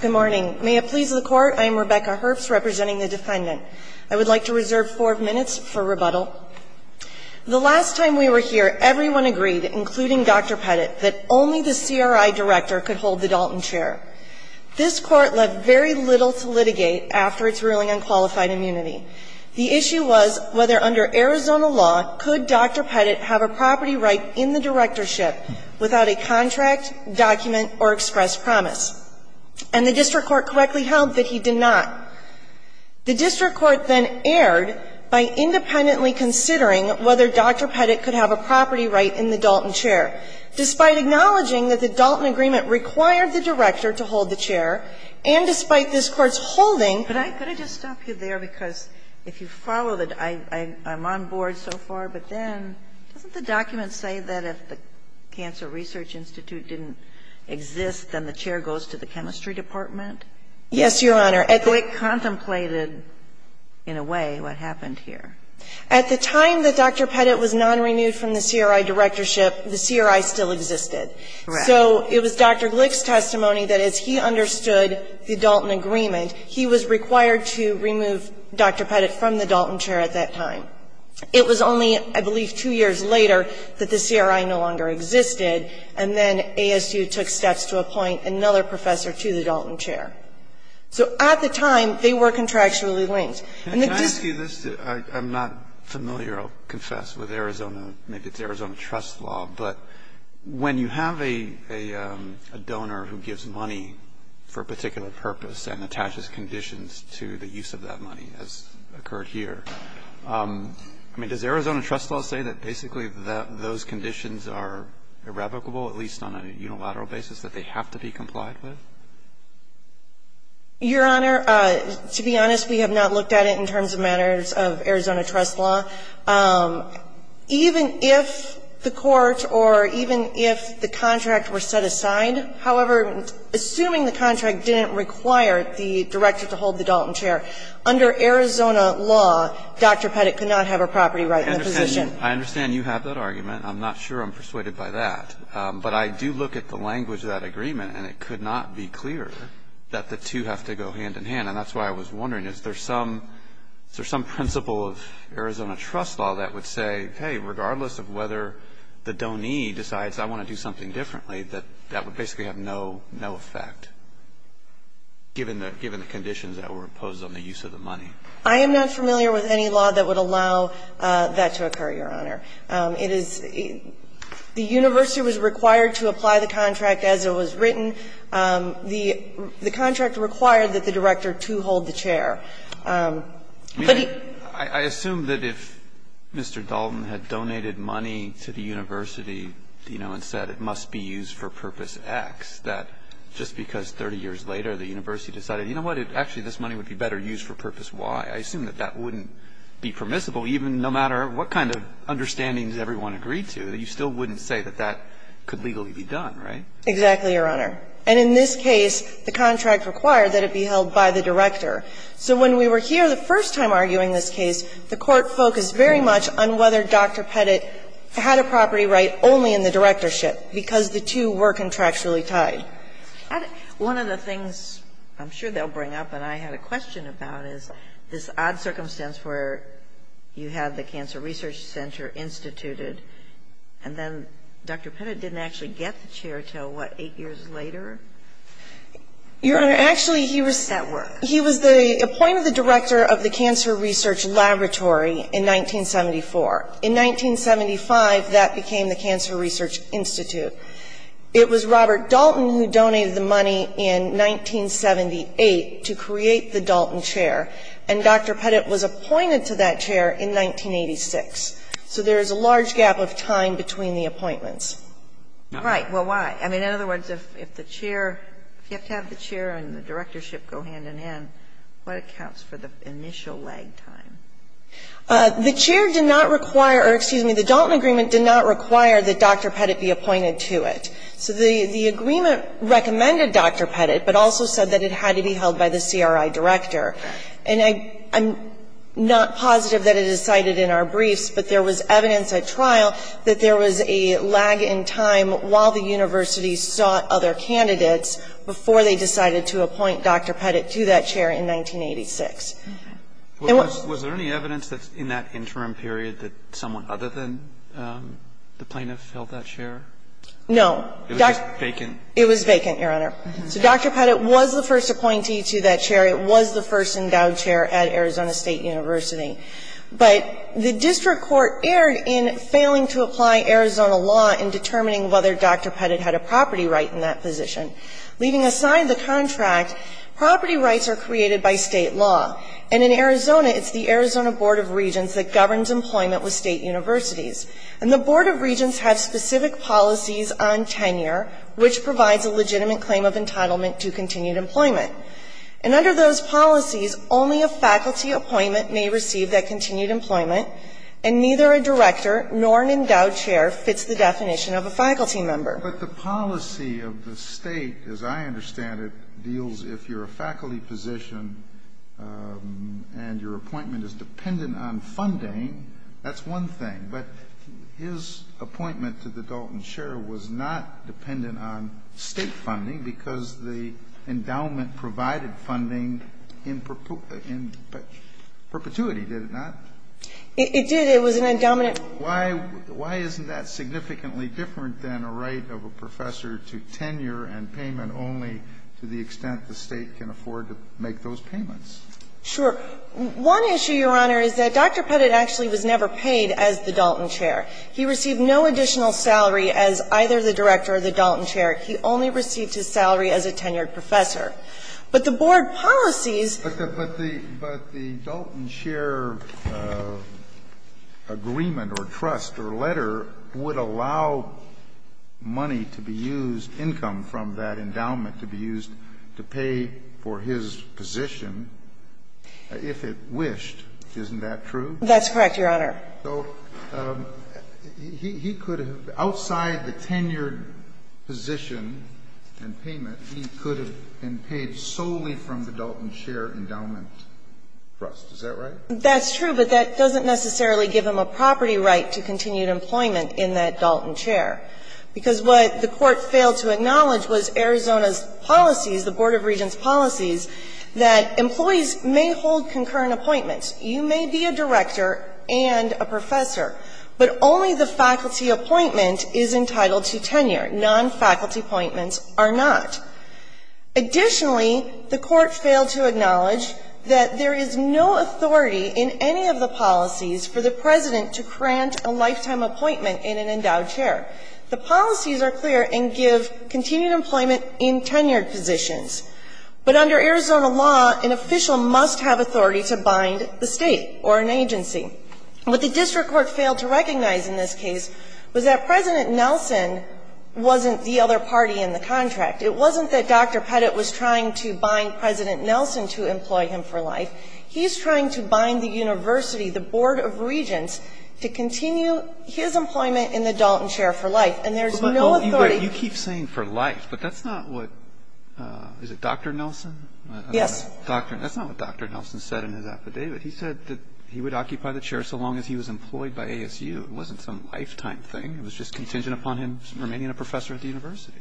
Good morning. May it please the Court, I am Rebecca Herbst representing the Defendant. I would like to reserve four minutes for rebuttal. The last time we were here, everyone agreed, including Dr. Pettit, that only the CRI Director could hold the Dalton chair. This Court left very little to litigate after its ruling on qualified immunity. The issue was whether under Arizona law could Dr. Pettit have a property right in the directorship without a contract, document, or express promise. And the district court correctly held that he did not. The district court then erred by independently considering whether Dr. Pettit could have a property right in the Dalton chair, despite acknowledging that the Dalton agreement required the director to hold the chair, and despite this Court's holding. Sotomayor, could I just stop you there? Because if you follow that, I'm on board so far, but then doesn't the document say that if the Cancer Research Institute didn't exist, then the chair goes to the chemistry department? Yes, Your Honor. So it contemplated, in a way, what happened here. At the time that Dr. Pettit was non-renewed from the CRI directorship, the CRI still existed. Correct. So it was Dr. Glick's testimony that as he understood the Dalton agreement, he was required to remove Dr. Pettit from the Dalton chair at that time. It was only, I believe, two years later that the CRI no longer existed, and then ASU took steps to appoint another professor to the Dalton chair. So at the time, they were contractually linked. And the district court said this. Can I ask you this? I'm not familiar, I'll confess, with Arizona, maybe it's Arizona trust law, but when you have a donor who gives money for a particular purpose and attaches conditions to the use of that money, as occurred here, I mean, does Arizona trust law say that basically those conditions are irrevocable, at least on a unilateral basis, that they have to be complied with? Your Honor, to be honest, we have not looked at it in terms of matters of Arizona trust law. Even if the court or even if the contract were set aside, however, assuming the contract didn't require the director to hold the Dalton chair, under Arizona law, Dr. Pettit could not have a property right in the position. I understand you have that argument. I'm not sure I'm persuaded by that. But I do look at the language of that agreement, and it could not be clearer that the two have to go hand in hand. And that's why I was wondering, is there some principle of Arizona trust law that would say, hey, regardless of whether the donee decides I want to do something differently, that that would basically have no effect, given the conditions that were imposed on the use of the money? I am not familiar with any law that would allow that to occur, Your Honor. It is the university was required to apply the contract as it was written. The contract required that the director, too, hold the chair. But he. I assume that if Mr. Dalton had donated money to the university, you know, and said it must be used for purpose X, that just because 30 years later the university decided, you know what, actually this money would be better used for purpose Y, I assume that that wouldn't be permissible, even no matter what kind of understandings everyone agreed to. You still wouldn't say that that could legally be done, right? Exactly, Your Honor. And in this case, the contract required that it be held by the director. So when we were here the first time arguing this case, the Court focused very much on whether Dr. Pettit had a property right only in the directorship, because the two were contractually tied. One of the things I'm sure they'll bring up and I had a question about is this odd circumstance where you had the Cancer Research Center instituted, and then Dr. Pettit didn't actually get the chair until, what, 8 years later? Your Honor, actually he was. That works. He was the appointed director of the Cancer Research Laboratory in 1974. In 1975, that became the Cancer Research Institute. It was Robert Dalton who donated the money in 1978 to create the Dalton chair, and Dr. Pettit was appointed to that chair in 1986. So there is a large gap of time between the appointments. Right. Well, why? I mean, in other words, if the chair, if you have to have the chair and the directorship go hand-in-hand, what accounts for the initial lag time? The chair did not require or, excuse me, the Dalton agreement did not require that Dr. Pettit be appointed to it. So the agreement recommended Dr. Pettit, but also said that it had to be held by the CRI director. And I'm not positive that it is cited in our briefs, but there was evidence at trial that there was a lag in time while the university sought other candidates before they decided to appoint Dr. Pettit to that chair in 1986. Was there any evidence in that interim period that someone other than the plaintiff held that chair? No. It was vacant. It was vacant, Your Honor. So Dr. Pettit was the first appointee to that chair. It was the first endowed chair at Arizona State University. But the district court erred in failing to apply Arizona law in determining whether Dr. Pettit had a property right in that position. Leaving aside the contract, property rights are created by State law. And in Arizona, it's the Arizona Board of Regents that governs employment with State universities. And the Board of Regents has specific policies on tenure which provides a legitimate claim of entitlement to continued employment. And under those policies, only a faculty appointment may receive that continued employment, and neither a director nor an endowed chair fits the definition of a faculty member. But the policy of the State, as I understand it, deals if you're a faculty position and your appointment is dependent on funding, that's one thing. But his appointment to the Dalton chair was not dependent on State funding because the endowment provided funding in perpetuity, did it not? It did. It was an endowment. Why isn't that significantly different than a right of a professor to tenure and payment only to the extent the State can afford to make those payments? Sure. One issue, Your Honor, is that Dr. Pettit actually was never paid as the Dalton chair. He received no additional salary as either the director or the Dalton chair. He only received his salary as a tenured professor. But the board policies. But the Dalton chair agreement or trust or letter would allow money to be used, income from that endowment to be used to pay for his position, if it wished. Isn't that true? That's correct, Your Honor. So he could have, outside the tenured position and payment, he could have been paid solely from the Dalton chair endowment trust. Is that right? That's true, but that doesn't necessarily give him a property right to continued employment in that Dalton chair. Because what the Court failed to acknowledge was Arizona's policies, the Board of Regents' policies, that employees may hold concurrent appointments. You may be a director and a professor, but only the faculty appointment is entitled to tenure. Non-faculty appointments are not. Additionally, the Court failed to acknowledge that there is no authority in any of the policies for the President to grant a lifetime appointment in an endowed chair. The policies are clear and give continued employment in tenured positions. But under Arizona law, an official must have authority to bind the State or an agency. What the district court failed to recognize in this case was that President Nelson wasn't the other party in the contract. It wasn't that Dr. Pettit was trying to bind President Nelson to employ him for life. He's trying to bind the university, the Board of Regents, to continue his employment in the Dalton chair for life. And there's no authority. You keep saying for life, but that's not what, is it Dr. Nelson? Yes. That's not what Dr. Nelson said in his affidavit. He said that he would occupy the chair so long as he was employed by ASU. It wasn't some lifetime thing. It was just contingent upon him remaining a professor at the university.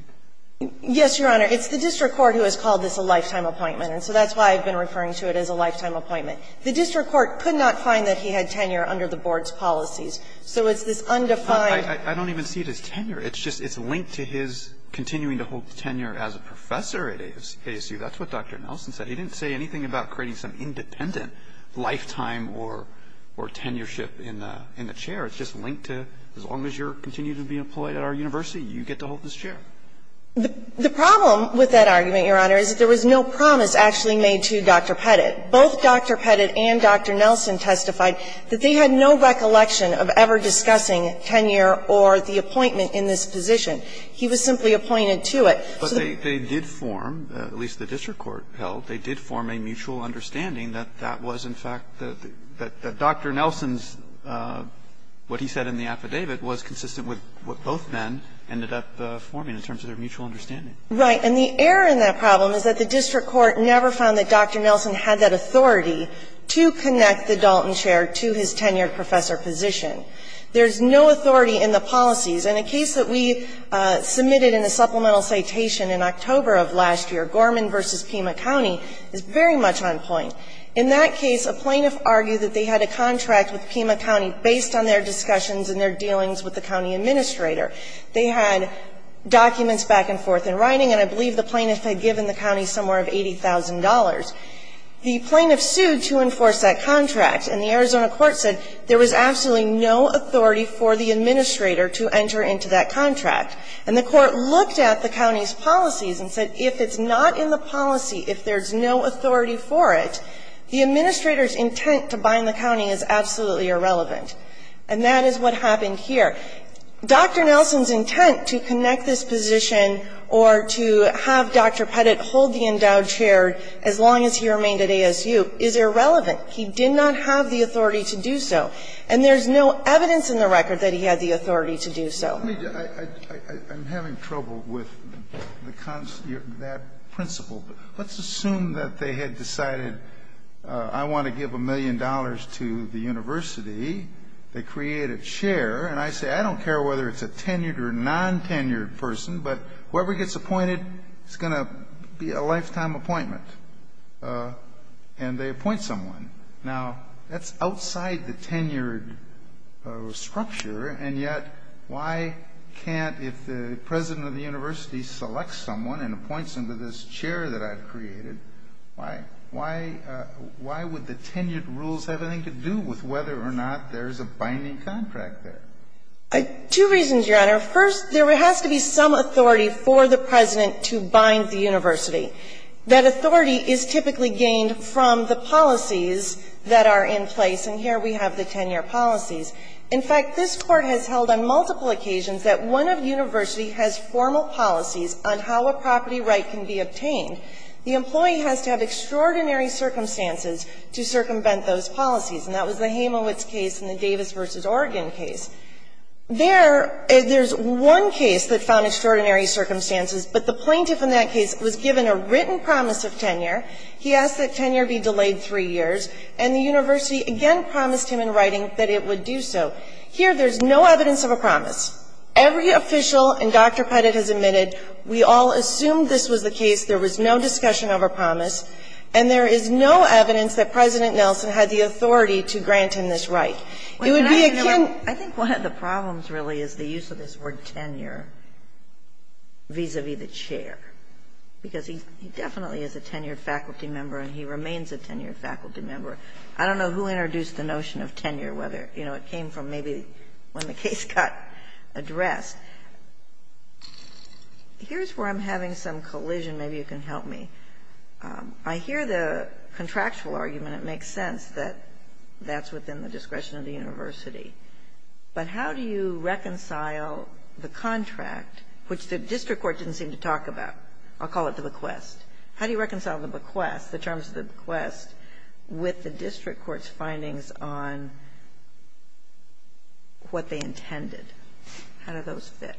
Yes, Your Honor. It's the district court who has called this a lifetime appointment. And so that's why I've been referring to it as a lifetime appointment. The district court could not find that he had tenure under the Board's policies. So it's this undefined. I don't even see it as tenure. It's just linked to his continuing to hold tenure as a professor at ASU. That's what Dr. Nelson said. He didn't say anything about creating some independent lifetime or tenureship in the chair. It's just linked to as long as you're continuing to be employed at our university, you get to hold this chair. The problem with that argument, Your Honor, is that there was no promise actually made to Dr. Pettit. Both Dr. Pettit and Dr. Nelson testified that they had no recollection of ever discussing tenure or the appointment in this position. He was simply appointed to it. But they did form, at least the district court held, they did form a mutual understanding that that was, in fact, that Dr. Nelson's, what he said in the affidavit, was consistent with what both men ended up forming in terms of their mutual understanding. Right. And the error in that problem is that the district court never found that Dr. Nelson had that authority to connect the Dalton chair to his tenured professor position. There's no authority in the policies. In a case that we submitted in a supplemental citation in October of last year, Gorman v. Pima County is very much on point. In that case, a plaintiff argued that they had a contract with Pima County based on their discussions and their dealings with the county administrator. They had documents back and forth in writing, and I believe the plaintiff had given the county somewhere of $80,000. The plaintiff sued to enforce that contract, and the Arizona court said there was absolutely no authority for the administrator to enter into that contract. And the court looked at the county's policies and said if it's not in the policy, if there's no authority for it, the administrator's intent to bind the county is absolutely irrelevant. And that is what happened here. Dr. Nelson's intent to connect this position or to have Dr. Pettit hold the endowed chair as long as he remained at ASU is irrelevant. He did not have the authority to do so. And there's no evidence in the record that he had the authority to do so. I'm having trouble with that principle. Let's assume that they had decided I want to give a million dollars to the university. They create a chair, and I say I don't care whether it's a tenured or non-tenured person, but whoever gets appointed is going to be a lifetime appointment. And they appoint someone. Now, that's outside the tenured structure, and yet, why can't, if the president of the university selects someone and appoints them to this chair that I've created, why would the tenured rules have anything to do with whether or not there's a binding contract there? Two reasons, Your Honor. First, there has to be some authority for the president to bind the university. That authority is typically gained from the policies that are in place. And here we have the tenure policies. In fact, this Court has held on multiple occasions that one university has formal policies on how a property right can be obtained. The employee has to have extraordinary circumstances to circumvent those policies. And that was the Hamowitz case and the Davis v. Oregon case. There's one case that found extraordinary circumstances, but the plaintiff in that case was given a written promise of tenure. He asked that tenure be delayed three years. And the university again promised him in writing that it would do so. Here, there's no evidence of a promise. Every official, and Dr. Pettit has admitted, we all assumed this was the case. There was no discussion of a promise. And there is no evidence that President Nelson had the authority to grant him this right. It would be akin to the court's position. Because he definitely is a tenured faculty member and he remains a tenured faculty member. I don't know who introduced the notion of tenure, whether, you know, it came from maybe when the case got addressed. Here's where I'm having some collision. Maybe you can help me. I hear the contractual argument. It makes sense that that's within the discretion of the university. And I'm not sure how to reconcile that. I'll call it the bequest. How do you reconcile the bequest, the terms of the bequest, with the district court's findings on what they intended? How do those fit?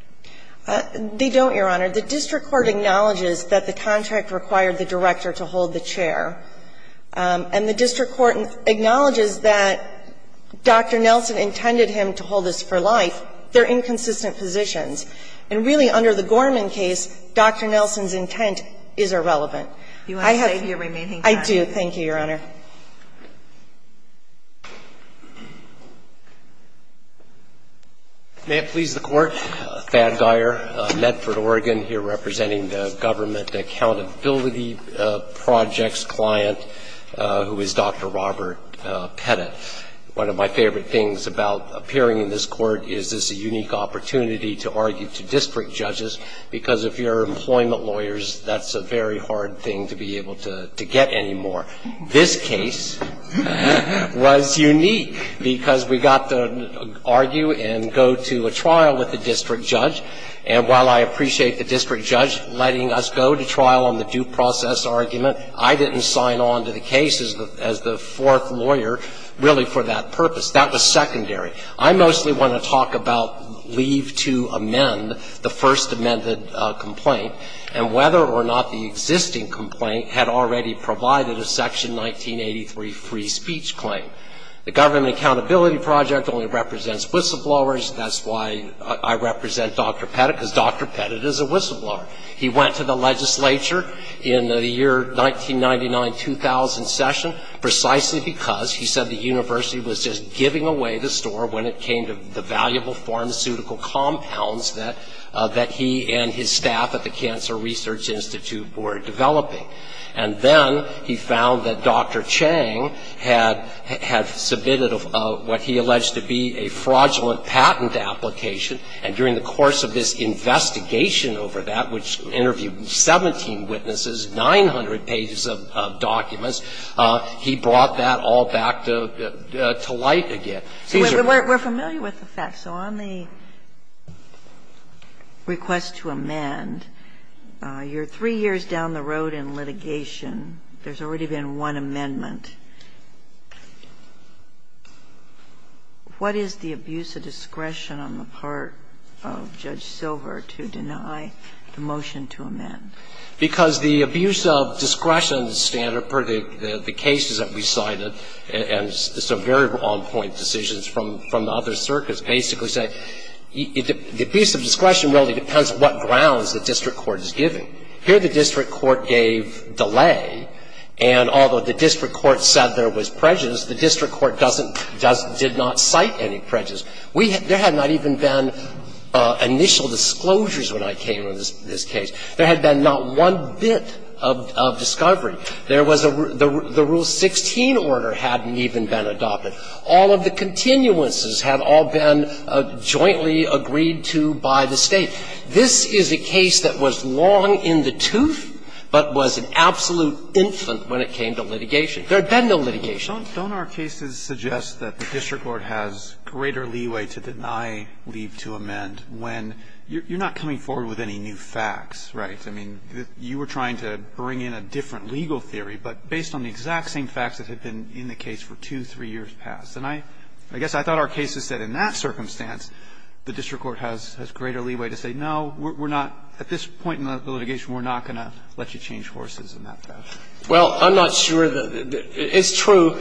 They don't, Your Honor. The district court acknowledges that the contract required the director to hold the chair. And the district court acknowledges that Dr. Nelson intended him to hold this for life. They're inconsistent positions. And really, under the Gorman case, Dr. Nelson's intent is irrelevant. I have to say to your remaining time. I do. Thank you, Your Honor. May it please the Court. Thad Geyer, Medford, Oregon, here representing the Government Accountability Project's client, who is Dr. Robert Pettit. Thank you, Mr. Geyer. Thank you, Mr. Pettit. One of my favorite things about appearing in this Court is it's a unique opportunity to argue to district judges, because if you're employment lawyers, that's a very hard thing to be able to get anymore. This case was unique because we got to argue and go to a trial with the district judge. And while I appreciate the district judge letting us go to trial on the due process argument, I didn't sign on to the case as the fourth lawyer really for that purpose. That was secondary. I mostly want to talk about leave to amend the first amended complaint and whether or not the existing complaint had already provided a Section 1983 free speech claim. The Government Accountability Project only represents whistleblowers. That's why I represent Dr. Pettit, because Dr. Pettit is a whistleblower. He went to the legislature in the year 1999-2000 session precisely because he said the university was just giving away the store when it came to the valuable pharmaceutical compounds that he and his staff at the Cancer Research Institute were developing. And then he found that Dr. Chang had submitted what he alleged to be a fraudulent patent application, and during the course of this investigation over that, which interviewed 17 witnesses, 900 pages of documents, he brought that all back to light again. Sotomayor, we're familiar with the facts. So on the request to amend, you're three years down the road in litigation. There's already been one amendment. What is the abuse of discretion on the part of Judge Silver to deny the motion to amend? Because the abuse of discretion standard, per the cases that we cited, and some very wrong-point decisions from the other circuits, basically say the abuse of discretion really depends on what grounds the district court is giving. Here, the district court gave delay, and although the district court said there was prejudice, the district court doesn't – did not cite any prejudice. We – there had not even been initial disclosures when I came to this case. There had been not one bit of discovery. There was a – the Rule 16 order hadn't even been adopted. All of the continuances had all been jointly agreed to by the State. This is a case that was long in the tooth, but was an absolute infant when it came to litigation. There had been no litigation. Don't our cases suggest that the district court has greater leeway to deny leave to amend when you're not coming forward with any new facts, right? I mean, you were trying to bring in a different legal theory, but based on the exact same facts that had been in the case for two, three years past, and I guess I thought our cases said in that circumstance, the district court has greater leeway to say, no, we're not – at this point in the litigation, we're not going to let you change horses in that fashion. Well, I'm not sure that – it's true.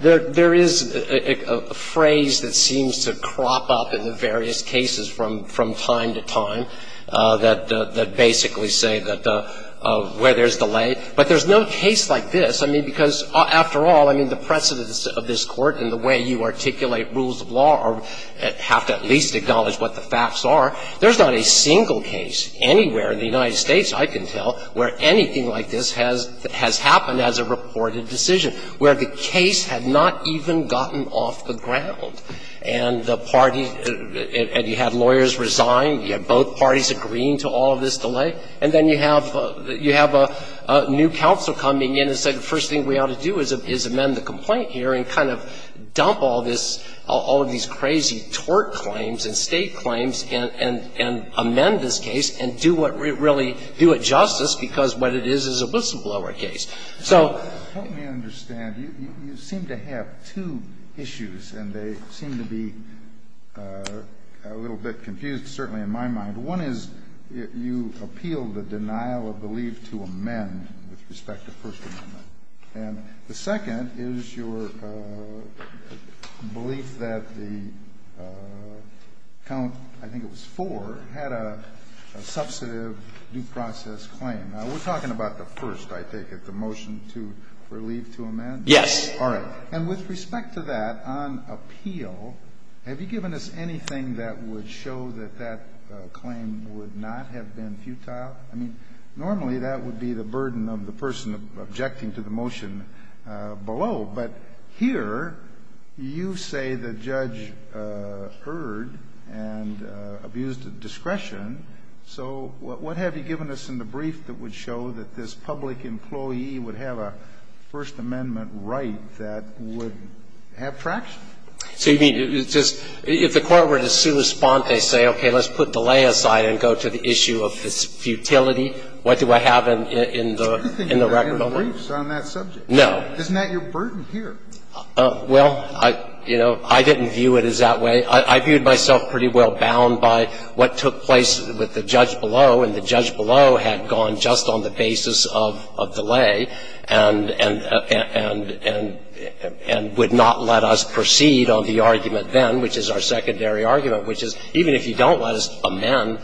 There is a phrase that seems to crop up in the various cases from time to time that basically say that the – where there's delay. But there's no case like this, I mean, because, after all, I mean, the precedence of this Court and the way you articulate rules of law are – have to at least acknowledge what the facts are. There's not a single case anywhere in the United States, I can tell, where anything like this has happened as a reported decision, where the case had not even gotten off the ground. And the party – and you had lawyers resign, you had both parties agreeing to all of this delay, and then you have – you have a new counsel coming in and said the first thing we ought to do is amend the complaint here and kind of dump all this – all of these crazy tort claims and state claims and amend this case and do what – really do it justice, because what it is is a whistleblower case. So – Help me understand. You seem to have two issues, and they seem to be a little bit confused, certainly in my mind. One is you appeal the denial of belief to amend with respect to First Amendment. And the second is your belief that the count – I think it was four – had a substantive due process claim. Now, we're talking about the first, I take it, the motion to – for leave to amend? Yes. All right. And with respect to that, on appeal, have you given us anything that would show that that claim would not have been futile? I mean, normally that would be the burden of the person objecting to the motion below. But here you say the judge erred and abused discretion. So what have you given us in the brief that would show that this public employee would have a First Amendment right that would have traction? So you mean it's just – if the court were to soon respond, they say, okay, let's put delay aside and go to the issue of futility. What do I have in the record? But you think that's in the briefs on that subject. No. Isn't that your burden here? Well, you know, I didn't view it as that way. I viewed myself pretty well bound by what took place with the judge below. And the judge below had gone just on the basis of delay and would not let us proceed on the argument then, which is our secondary argument, which is even if you don't let us amend,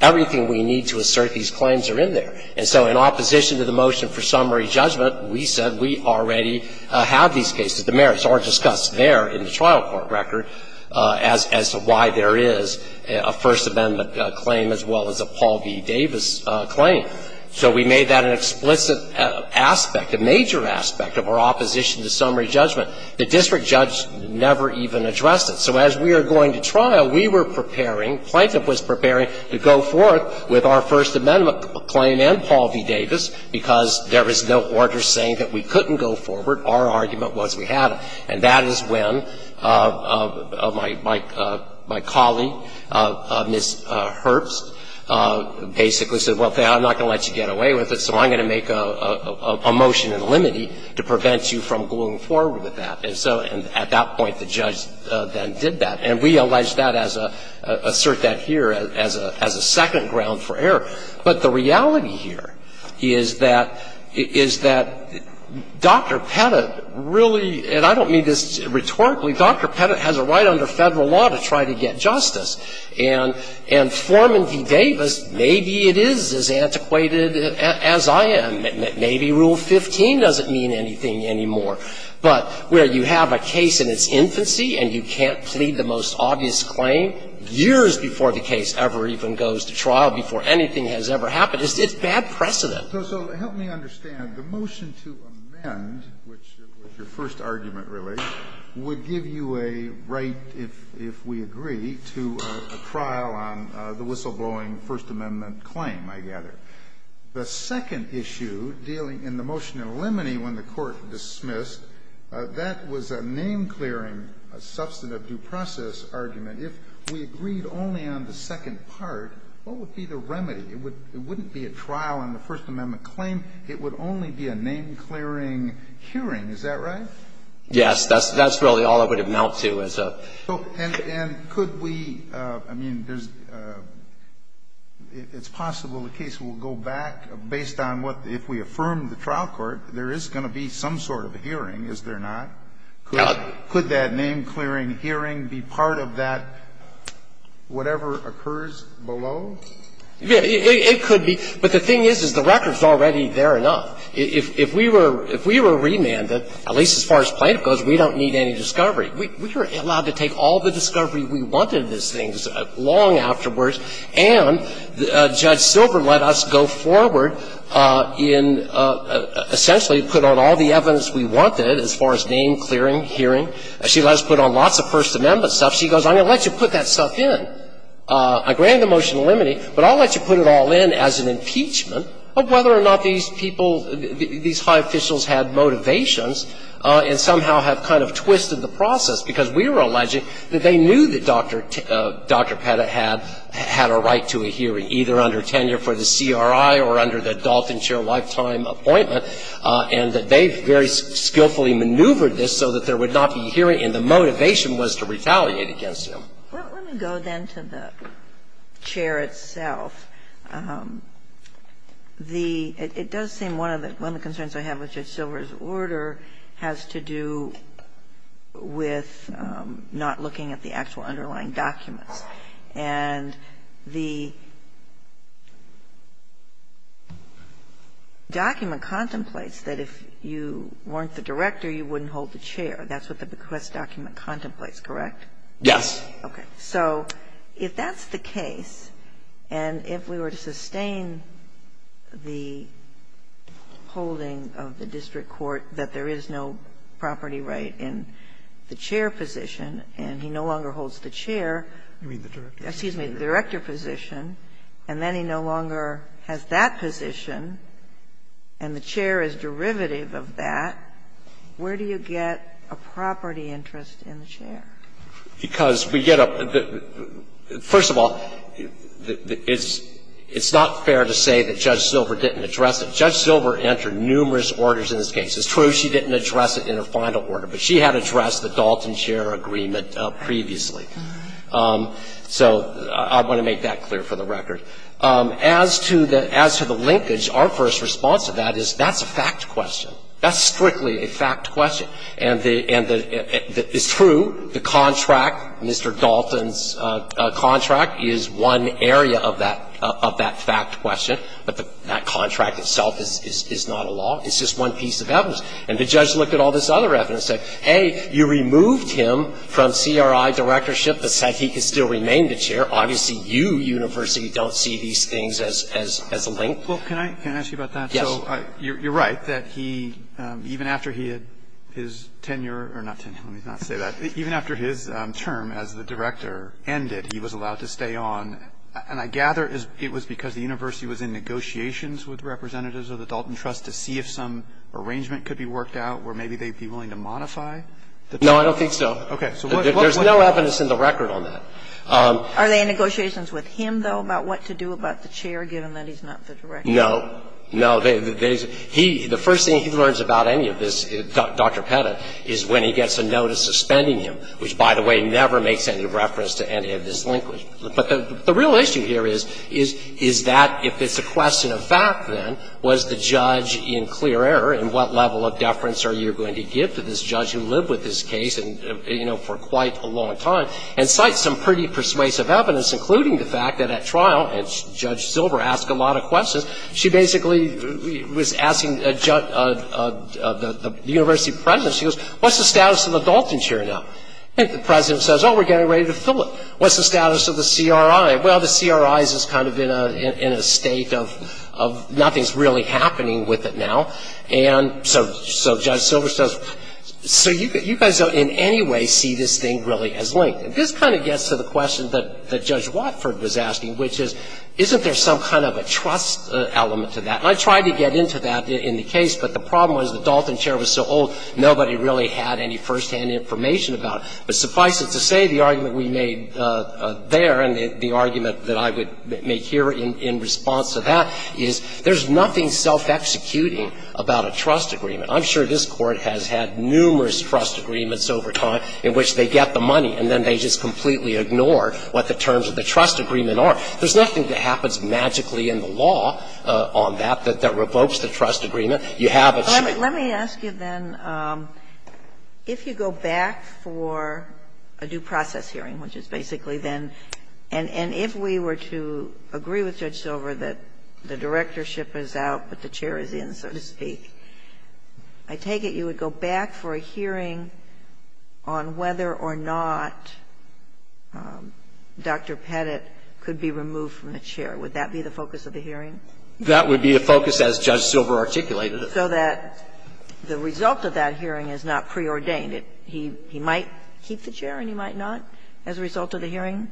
everything we need to assert these claims are in there. And so in opposition to the motion for summary judgment, we said we already have these cases. The merits are discussed there in the trial court record as to why there is a First Amendment claim as well as a Paul V. Davis claim. So we made that an explicit aspect, a major aspect of our opposition to summary judgment. The district judge never even addressed it. So as we are going to trial, we were preparing, Plaintiff was preparing to go forth with our First Amendment claim and Paul V. Davis because there was no order saying that we couldn't go forward. Our argument was we had to. And that is when my colleague, Ms. Herbst, basically said, well, I'm not going to let you get away with it, so I'm going to make a motion in limine to prevent you from going forward with that. And so at that point, the judge then did that. And we allege that as a, assert that here as a second ground for error. But the reality here is that, is that Dr. Pettit really, and I don't mean this rhetorically, Dr. Pettit has a right under Federal law to try to get justice. And Foreman V. Davis, maybe it is as antiquated as I am. Maybe Rule 15 doesn't mean anything anymore. But where you have a case in its infancy and you can't plead the most obvious claim, years before the case ever even goes to trial, before anything has ever happened, it's bad precedent. So help me understand. The motion to amend, which your first argument relates, would give you a right, if we agree, to a trial on the whistleblowing First Amendment claim, I gather. The second issue dealing in the motion in limine when the Court dismissed, that was a name-clearing substantive due process argument. If we agreed only on the second part, what would be the remedy? It wouldn't be a trial on the First Amendment claim. It would only be a name-clearing hearing. Is that right? Yes. That's really all I would have knelt to as a. And could we, I mean, it's possible the case will go back based on what, if we affirm the trial court, there is going to be some sort of hearing, is there not? Could that name-clearing hearing be part of that whatever occurs below? It could be. But the thing is, is the record is already there enough. If we were remanded, at least as far as plaintiff goes, we don't need any discovery. We are allowed to take all the discovery we wanted as things long afterwards, and Judge Silver let us go forward in essentially put on all the evidence we wanted as far as name-clearing hearing. She let us put on lots of First Amendment stuff. She goes, I'm going to let you put that stuff in. I granted the motion in limine, but I'll let you put it all in as an impeachment of whether or not these people, these high officials had motivations and somehow have kind of twisted the process. Because we were alleging that they knew that Dr. Petta had a right to a hearing, either under tenure for the CRI or under the Dalton Chair lifetime appointment, and that they very skillfully maneuvered this so that there would not be a hearing and the motivation was to retaliate against him. Well, let me go then to the chair itself. It does seem one of the concerns I have with Judge Silver's order has to do with not looking at the actual underlying documents. And the document contemplates that if you weren't the director, you wouldn't hold the chair. That's what the bequest document contemplates, correct? Yes. Okay. So if that's the case, and if we were to sustain the holding of the district court that there is no property right in the chair position and he no longer holds the chair. You mean the director? Excuse me, the director position, and then he no longer has that position and the chair is derivative of that, where do you get a property interest in the chair? Because we get a – first of all, it's not fair to say that Judge Silver didn't address it. Judge Silver entered numerous orders in this case. It's true she didn't address it in a final order, but she had addressed the Dalton Chair agreement previously. So I want to make that clear for the record. As to the linkage, our first response to that is that's a fact question. That's strictly a fact question. And it's true the contract, Mr. Dalton's contract, is one area of that fact question, but that contract itself is not a law. It's just one piece of evidence. And the judge looked at all this other evidence and said, hey, you removed him from CRI directorship that said he could still remain the chair. Obviously, you, University, don't see these things as a link. Well, can I ask you about that? So you're right that he, even after he had his tenure – or not tenure, let me not say that. Even after his term as the director ended, he was allowed to stay on. And I gather it was because the university was in negotiations with representatives of the Dalton Trust to see if some arrangement could be worked out where maybe they'd be willing to modify the terms. No, I don't think so. Okay. There's no evidence in the record on that. Are they in negotiations with him, though, about what to do about the chair given that he's not the director? No. No. The first thing he learns about any of this, Dr. Pettit, is when he gets a notice suspending him, which, by the way, never makes any reference to any of this linkage. But the real issue here is, is that if it's a question of fact, then, was the judge in clear error, and what level of deference are you going to give to this judge who lived with this case, you know, for quite a long time, and cite some pretty persuasive evidence, including the fact that at trial, and Judge Silver asked a lot of questions, she basically was asking the university president, she goes, what's the status of the Dalton chair now? And the president says, oh, we're getting ready to fill it. What's the status of the CRI? Well, the CRI is kind of in a state of nothing's really happening with it now. And so Judge Silver says, so you guys don't in any way see this thing really as linked. And this kind of gets to the question that Judge Watford was asking, which is, isn't there some kind of a trust element to that? And I tried to get into that in the case, but the problem was the Dalton chair was so old, nobody really had any firsthand information about it. But suffice it to say, the argument we made there, and the argument that I would make here in response to that, is there's nothing self-executing about a trust agreement. I'm sure this Court has had numerous trust agreements over time in which they get the money, and then they just completely ignore what the terms of the trust agreement are. There's nothing that happens magically in the law on that that revokes the trust You have a straight line. Ginsburg. Let me ask you then, if you go back for a due process hearing, which is basically then, and if we were to agree with Judge Silver that the directorship is out but the chair is in, so to speak, I take it you would go back for a hearing on whether or not Dr. Pettit could be removed from the chair. Would that be the focus of the hearing? That would be the focus as Judge Silver articulated it. So that the result of that hearing is not preordained. He might keep the chair and he might not as a result of the hearing?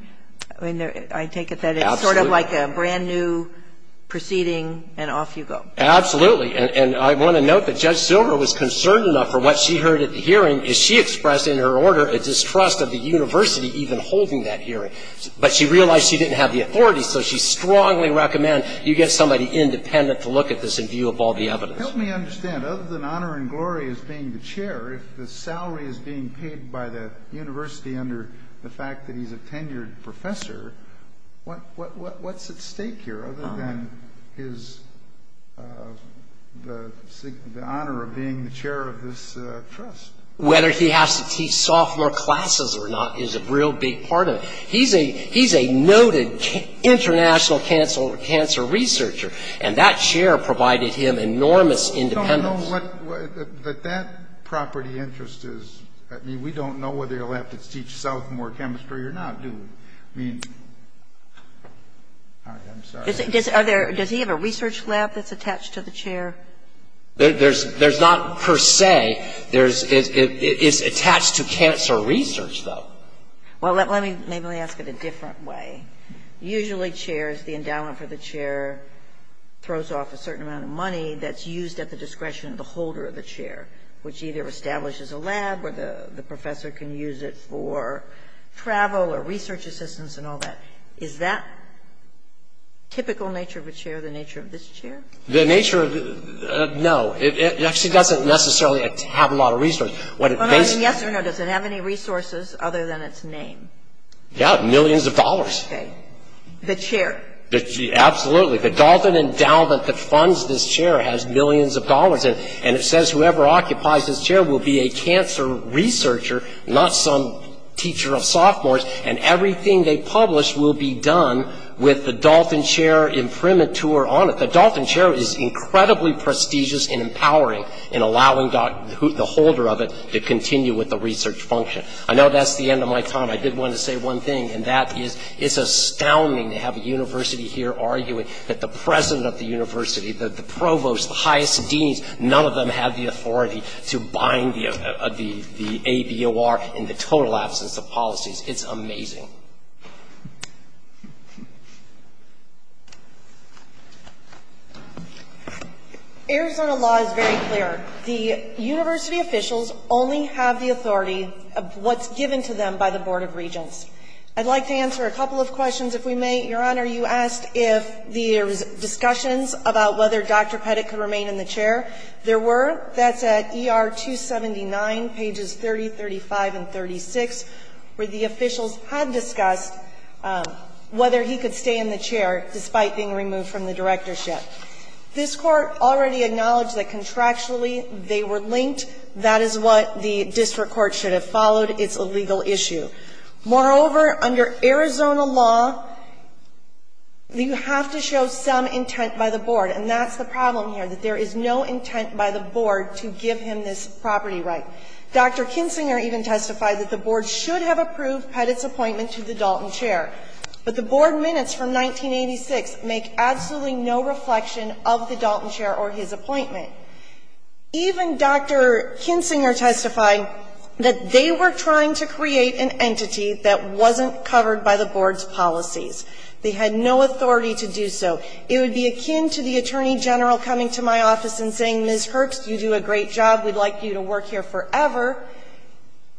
I mean, I take it that it's sort of like a brand-new proceeding and off you go. Absolutely. And I want to note that Judge Silver was concerned enough for what she heard at the hearing that she was concerned enough to have the chair of the trust of the university even holding that hearing. But she realized she didn't have the authority, so she strongly recommends you get somebody independent to look at this and view of all the evidence. Help me understand. Other than honor and glory as being the chair, if the salary is being paid by the university under the fact that he's a tenured professor, what's at stake here other than the honor of being the chair of this trust? Whether he has to teach sophomore classes or not is a real big part of it. He's a noted international cancer researcher, and that chair provided him enormous independence. I don't know what that property interest is. I mean, we don't know whether he'll have to teach sophomore chemistry or not, do we? I mean, I'm sorry. Does he have a research lab that's attached to the chair? There's not per se. It's attached to cancer research, though. Well, let me ask it a different way. Usually, chairs, the endowment for the chair throws off a certain amount of money that's used at the discretion of the holder of the chair, which either establishes a lab where the professor can use it for travel or research assistance and all that. Is that typical nature of a chair the nature of this chair? The nature of it, no. It actually doesn't necessarily have a lot of resources. Yes or no, does it have any resources other than its name? Yeah, millions of dollars. Okay. The chair. Absolutely. The Dalton Endowment that funds this chair has millions of dollars, and it says whoever occupies this chair will be a cancer researcher, not some teacher of with the Dalton chair imprimatur on it. The Dalton chair is incredibly prestigious in empowering and allowing the holder of it to continue with the research function. I know that's the end of my time. I did want to say one thing, and that is it's astounding to have a university here arguing that the president of the university, the provost, the highest deans, none of them have the authority to bind the ABOR in the total absence of policies. It's amazing. Arizona law is very clear. The university officials only have the authority of what's given to them by the Board of Regents. I'd like to answer a couple of questions if we may. Your Honor, you asked if there's discussions about whether Dr. Pettit could remain in the chair. There were. That's at ER 279, pages 30, 35, and 36, where the officials had discussed whether he could stay in the chair despite being removed from the directorship. This Court already acknowledged that contractually they were linked. That is what the district court should have followed. It's a legal issue. Moreover, under Arizona law, you have to show some intent by the board, and that's the problem here, that there is no intent by the board to give him this property right. Dr. Kinsinger even testified that the board should have approved Pettit's appointment to the Dalton chair, but the board minutes from 1986 make absolutely no reflection of the Dalton chair or his appointment. Even Dr. Kinsinger testified that they were trying to create an entity that wasn't covered by the board's policies. They had no authority to do so. It would be akin to the attorney general coming to my office and saying, Ms. Herx, you do a great job, we'd like you to work here forever.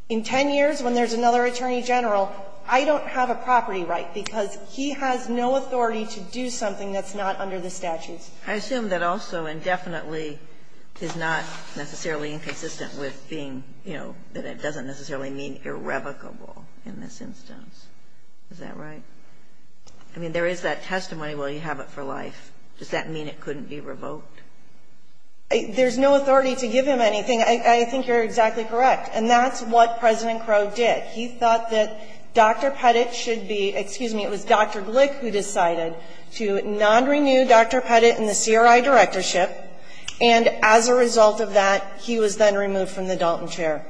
In 10 years, when there's another attorney general, I don't have a property right because he has no authority to do something that's not under the statutes. I assume that also indefinitely is not necessarily inconsistent with being, you know, that it doesn't necessarily mean irrevocable in this instance. Is that right? I mean, there is that testimony, well, you have it for life. Does that mean it couldn't be revoked? There's no authority to give him anything. I think you're exactly correct. And that's what President Crow did. He thought that Dr. Pettit should be, excuse me, it was Dr. Glick who decided to non-renew Dr. Pettit in the CRI directorship, and as a result of that, he was then removed from the Dalton chair.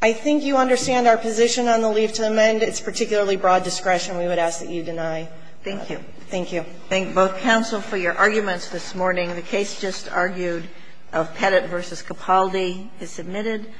I think you understand our position on the leave to amend. It's particularly broad discretion. We would ask that you deny that. Thank you. Thank you. I thank both counsel for your arguments this morning. The case just argued of Pettit v. Capaldi is submitted.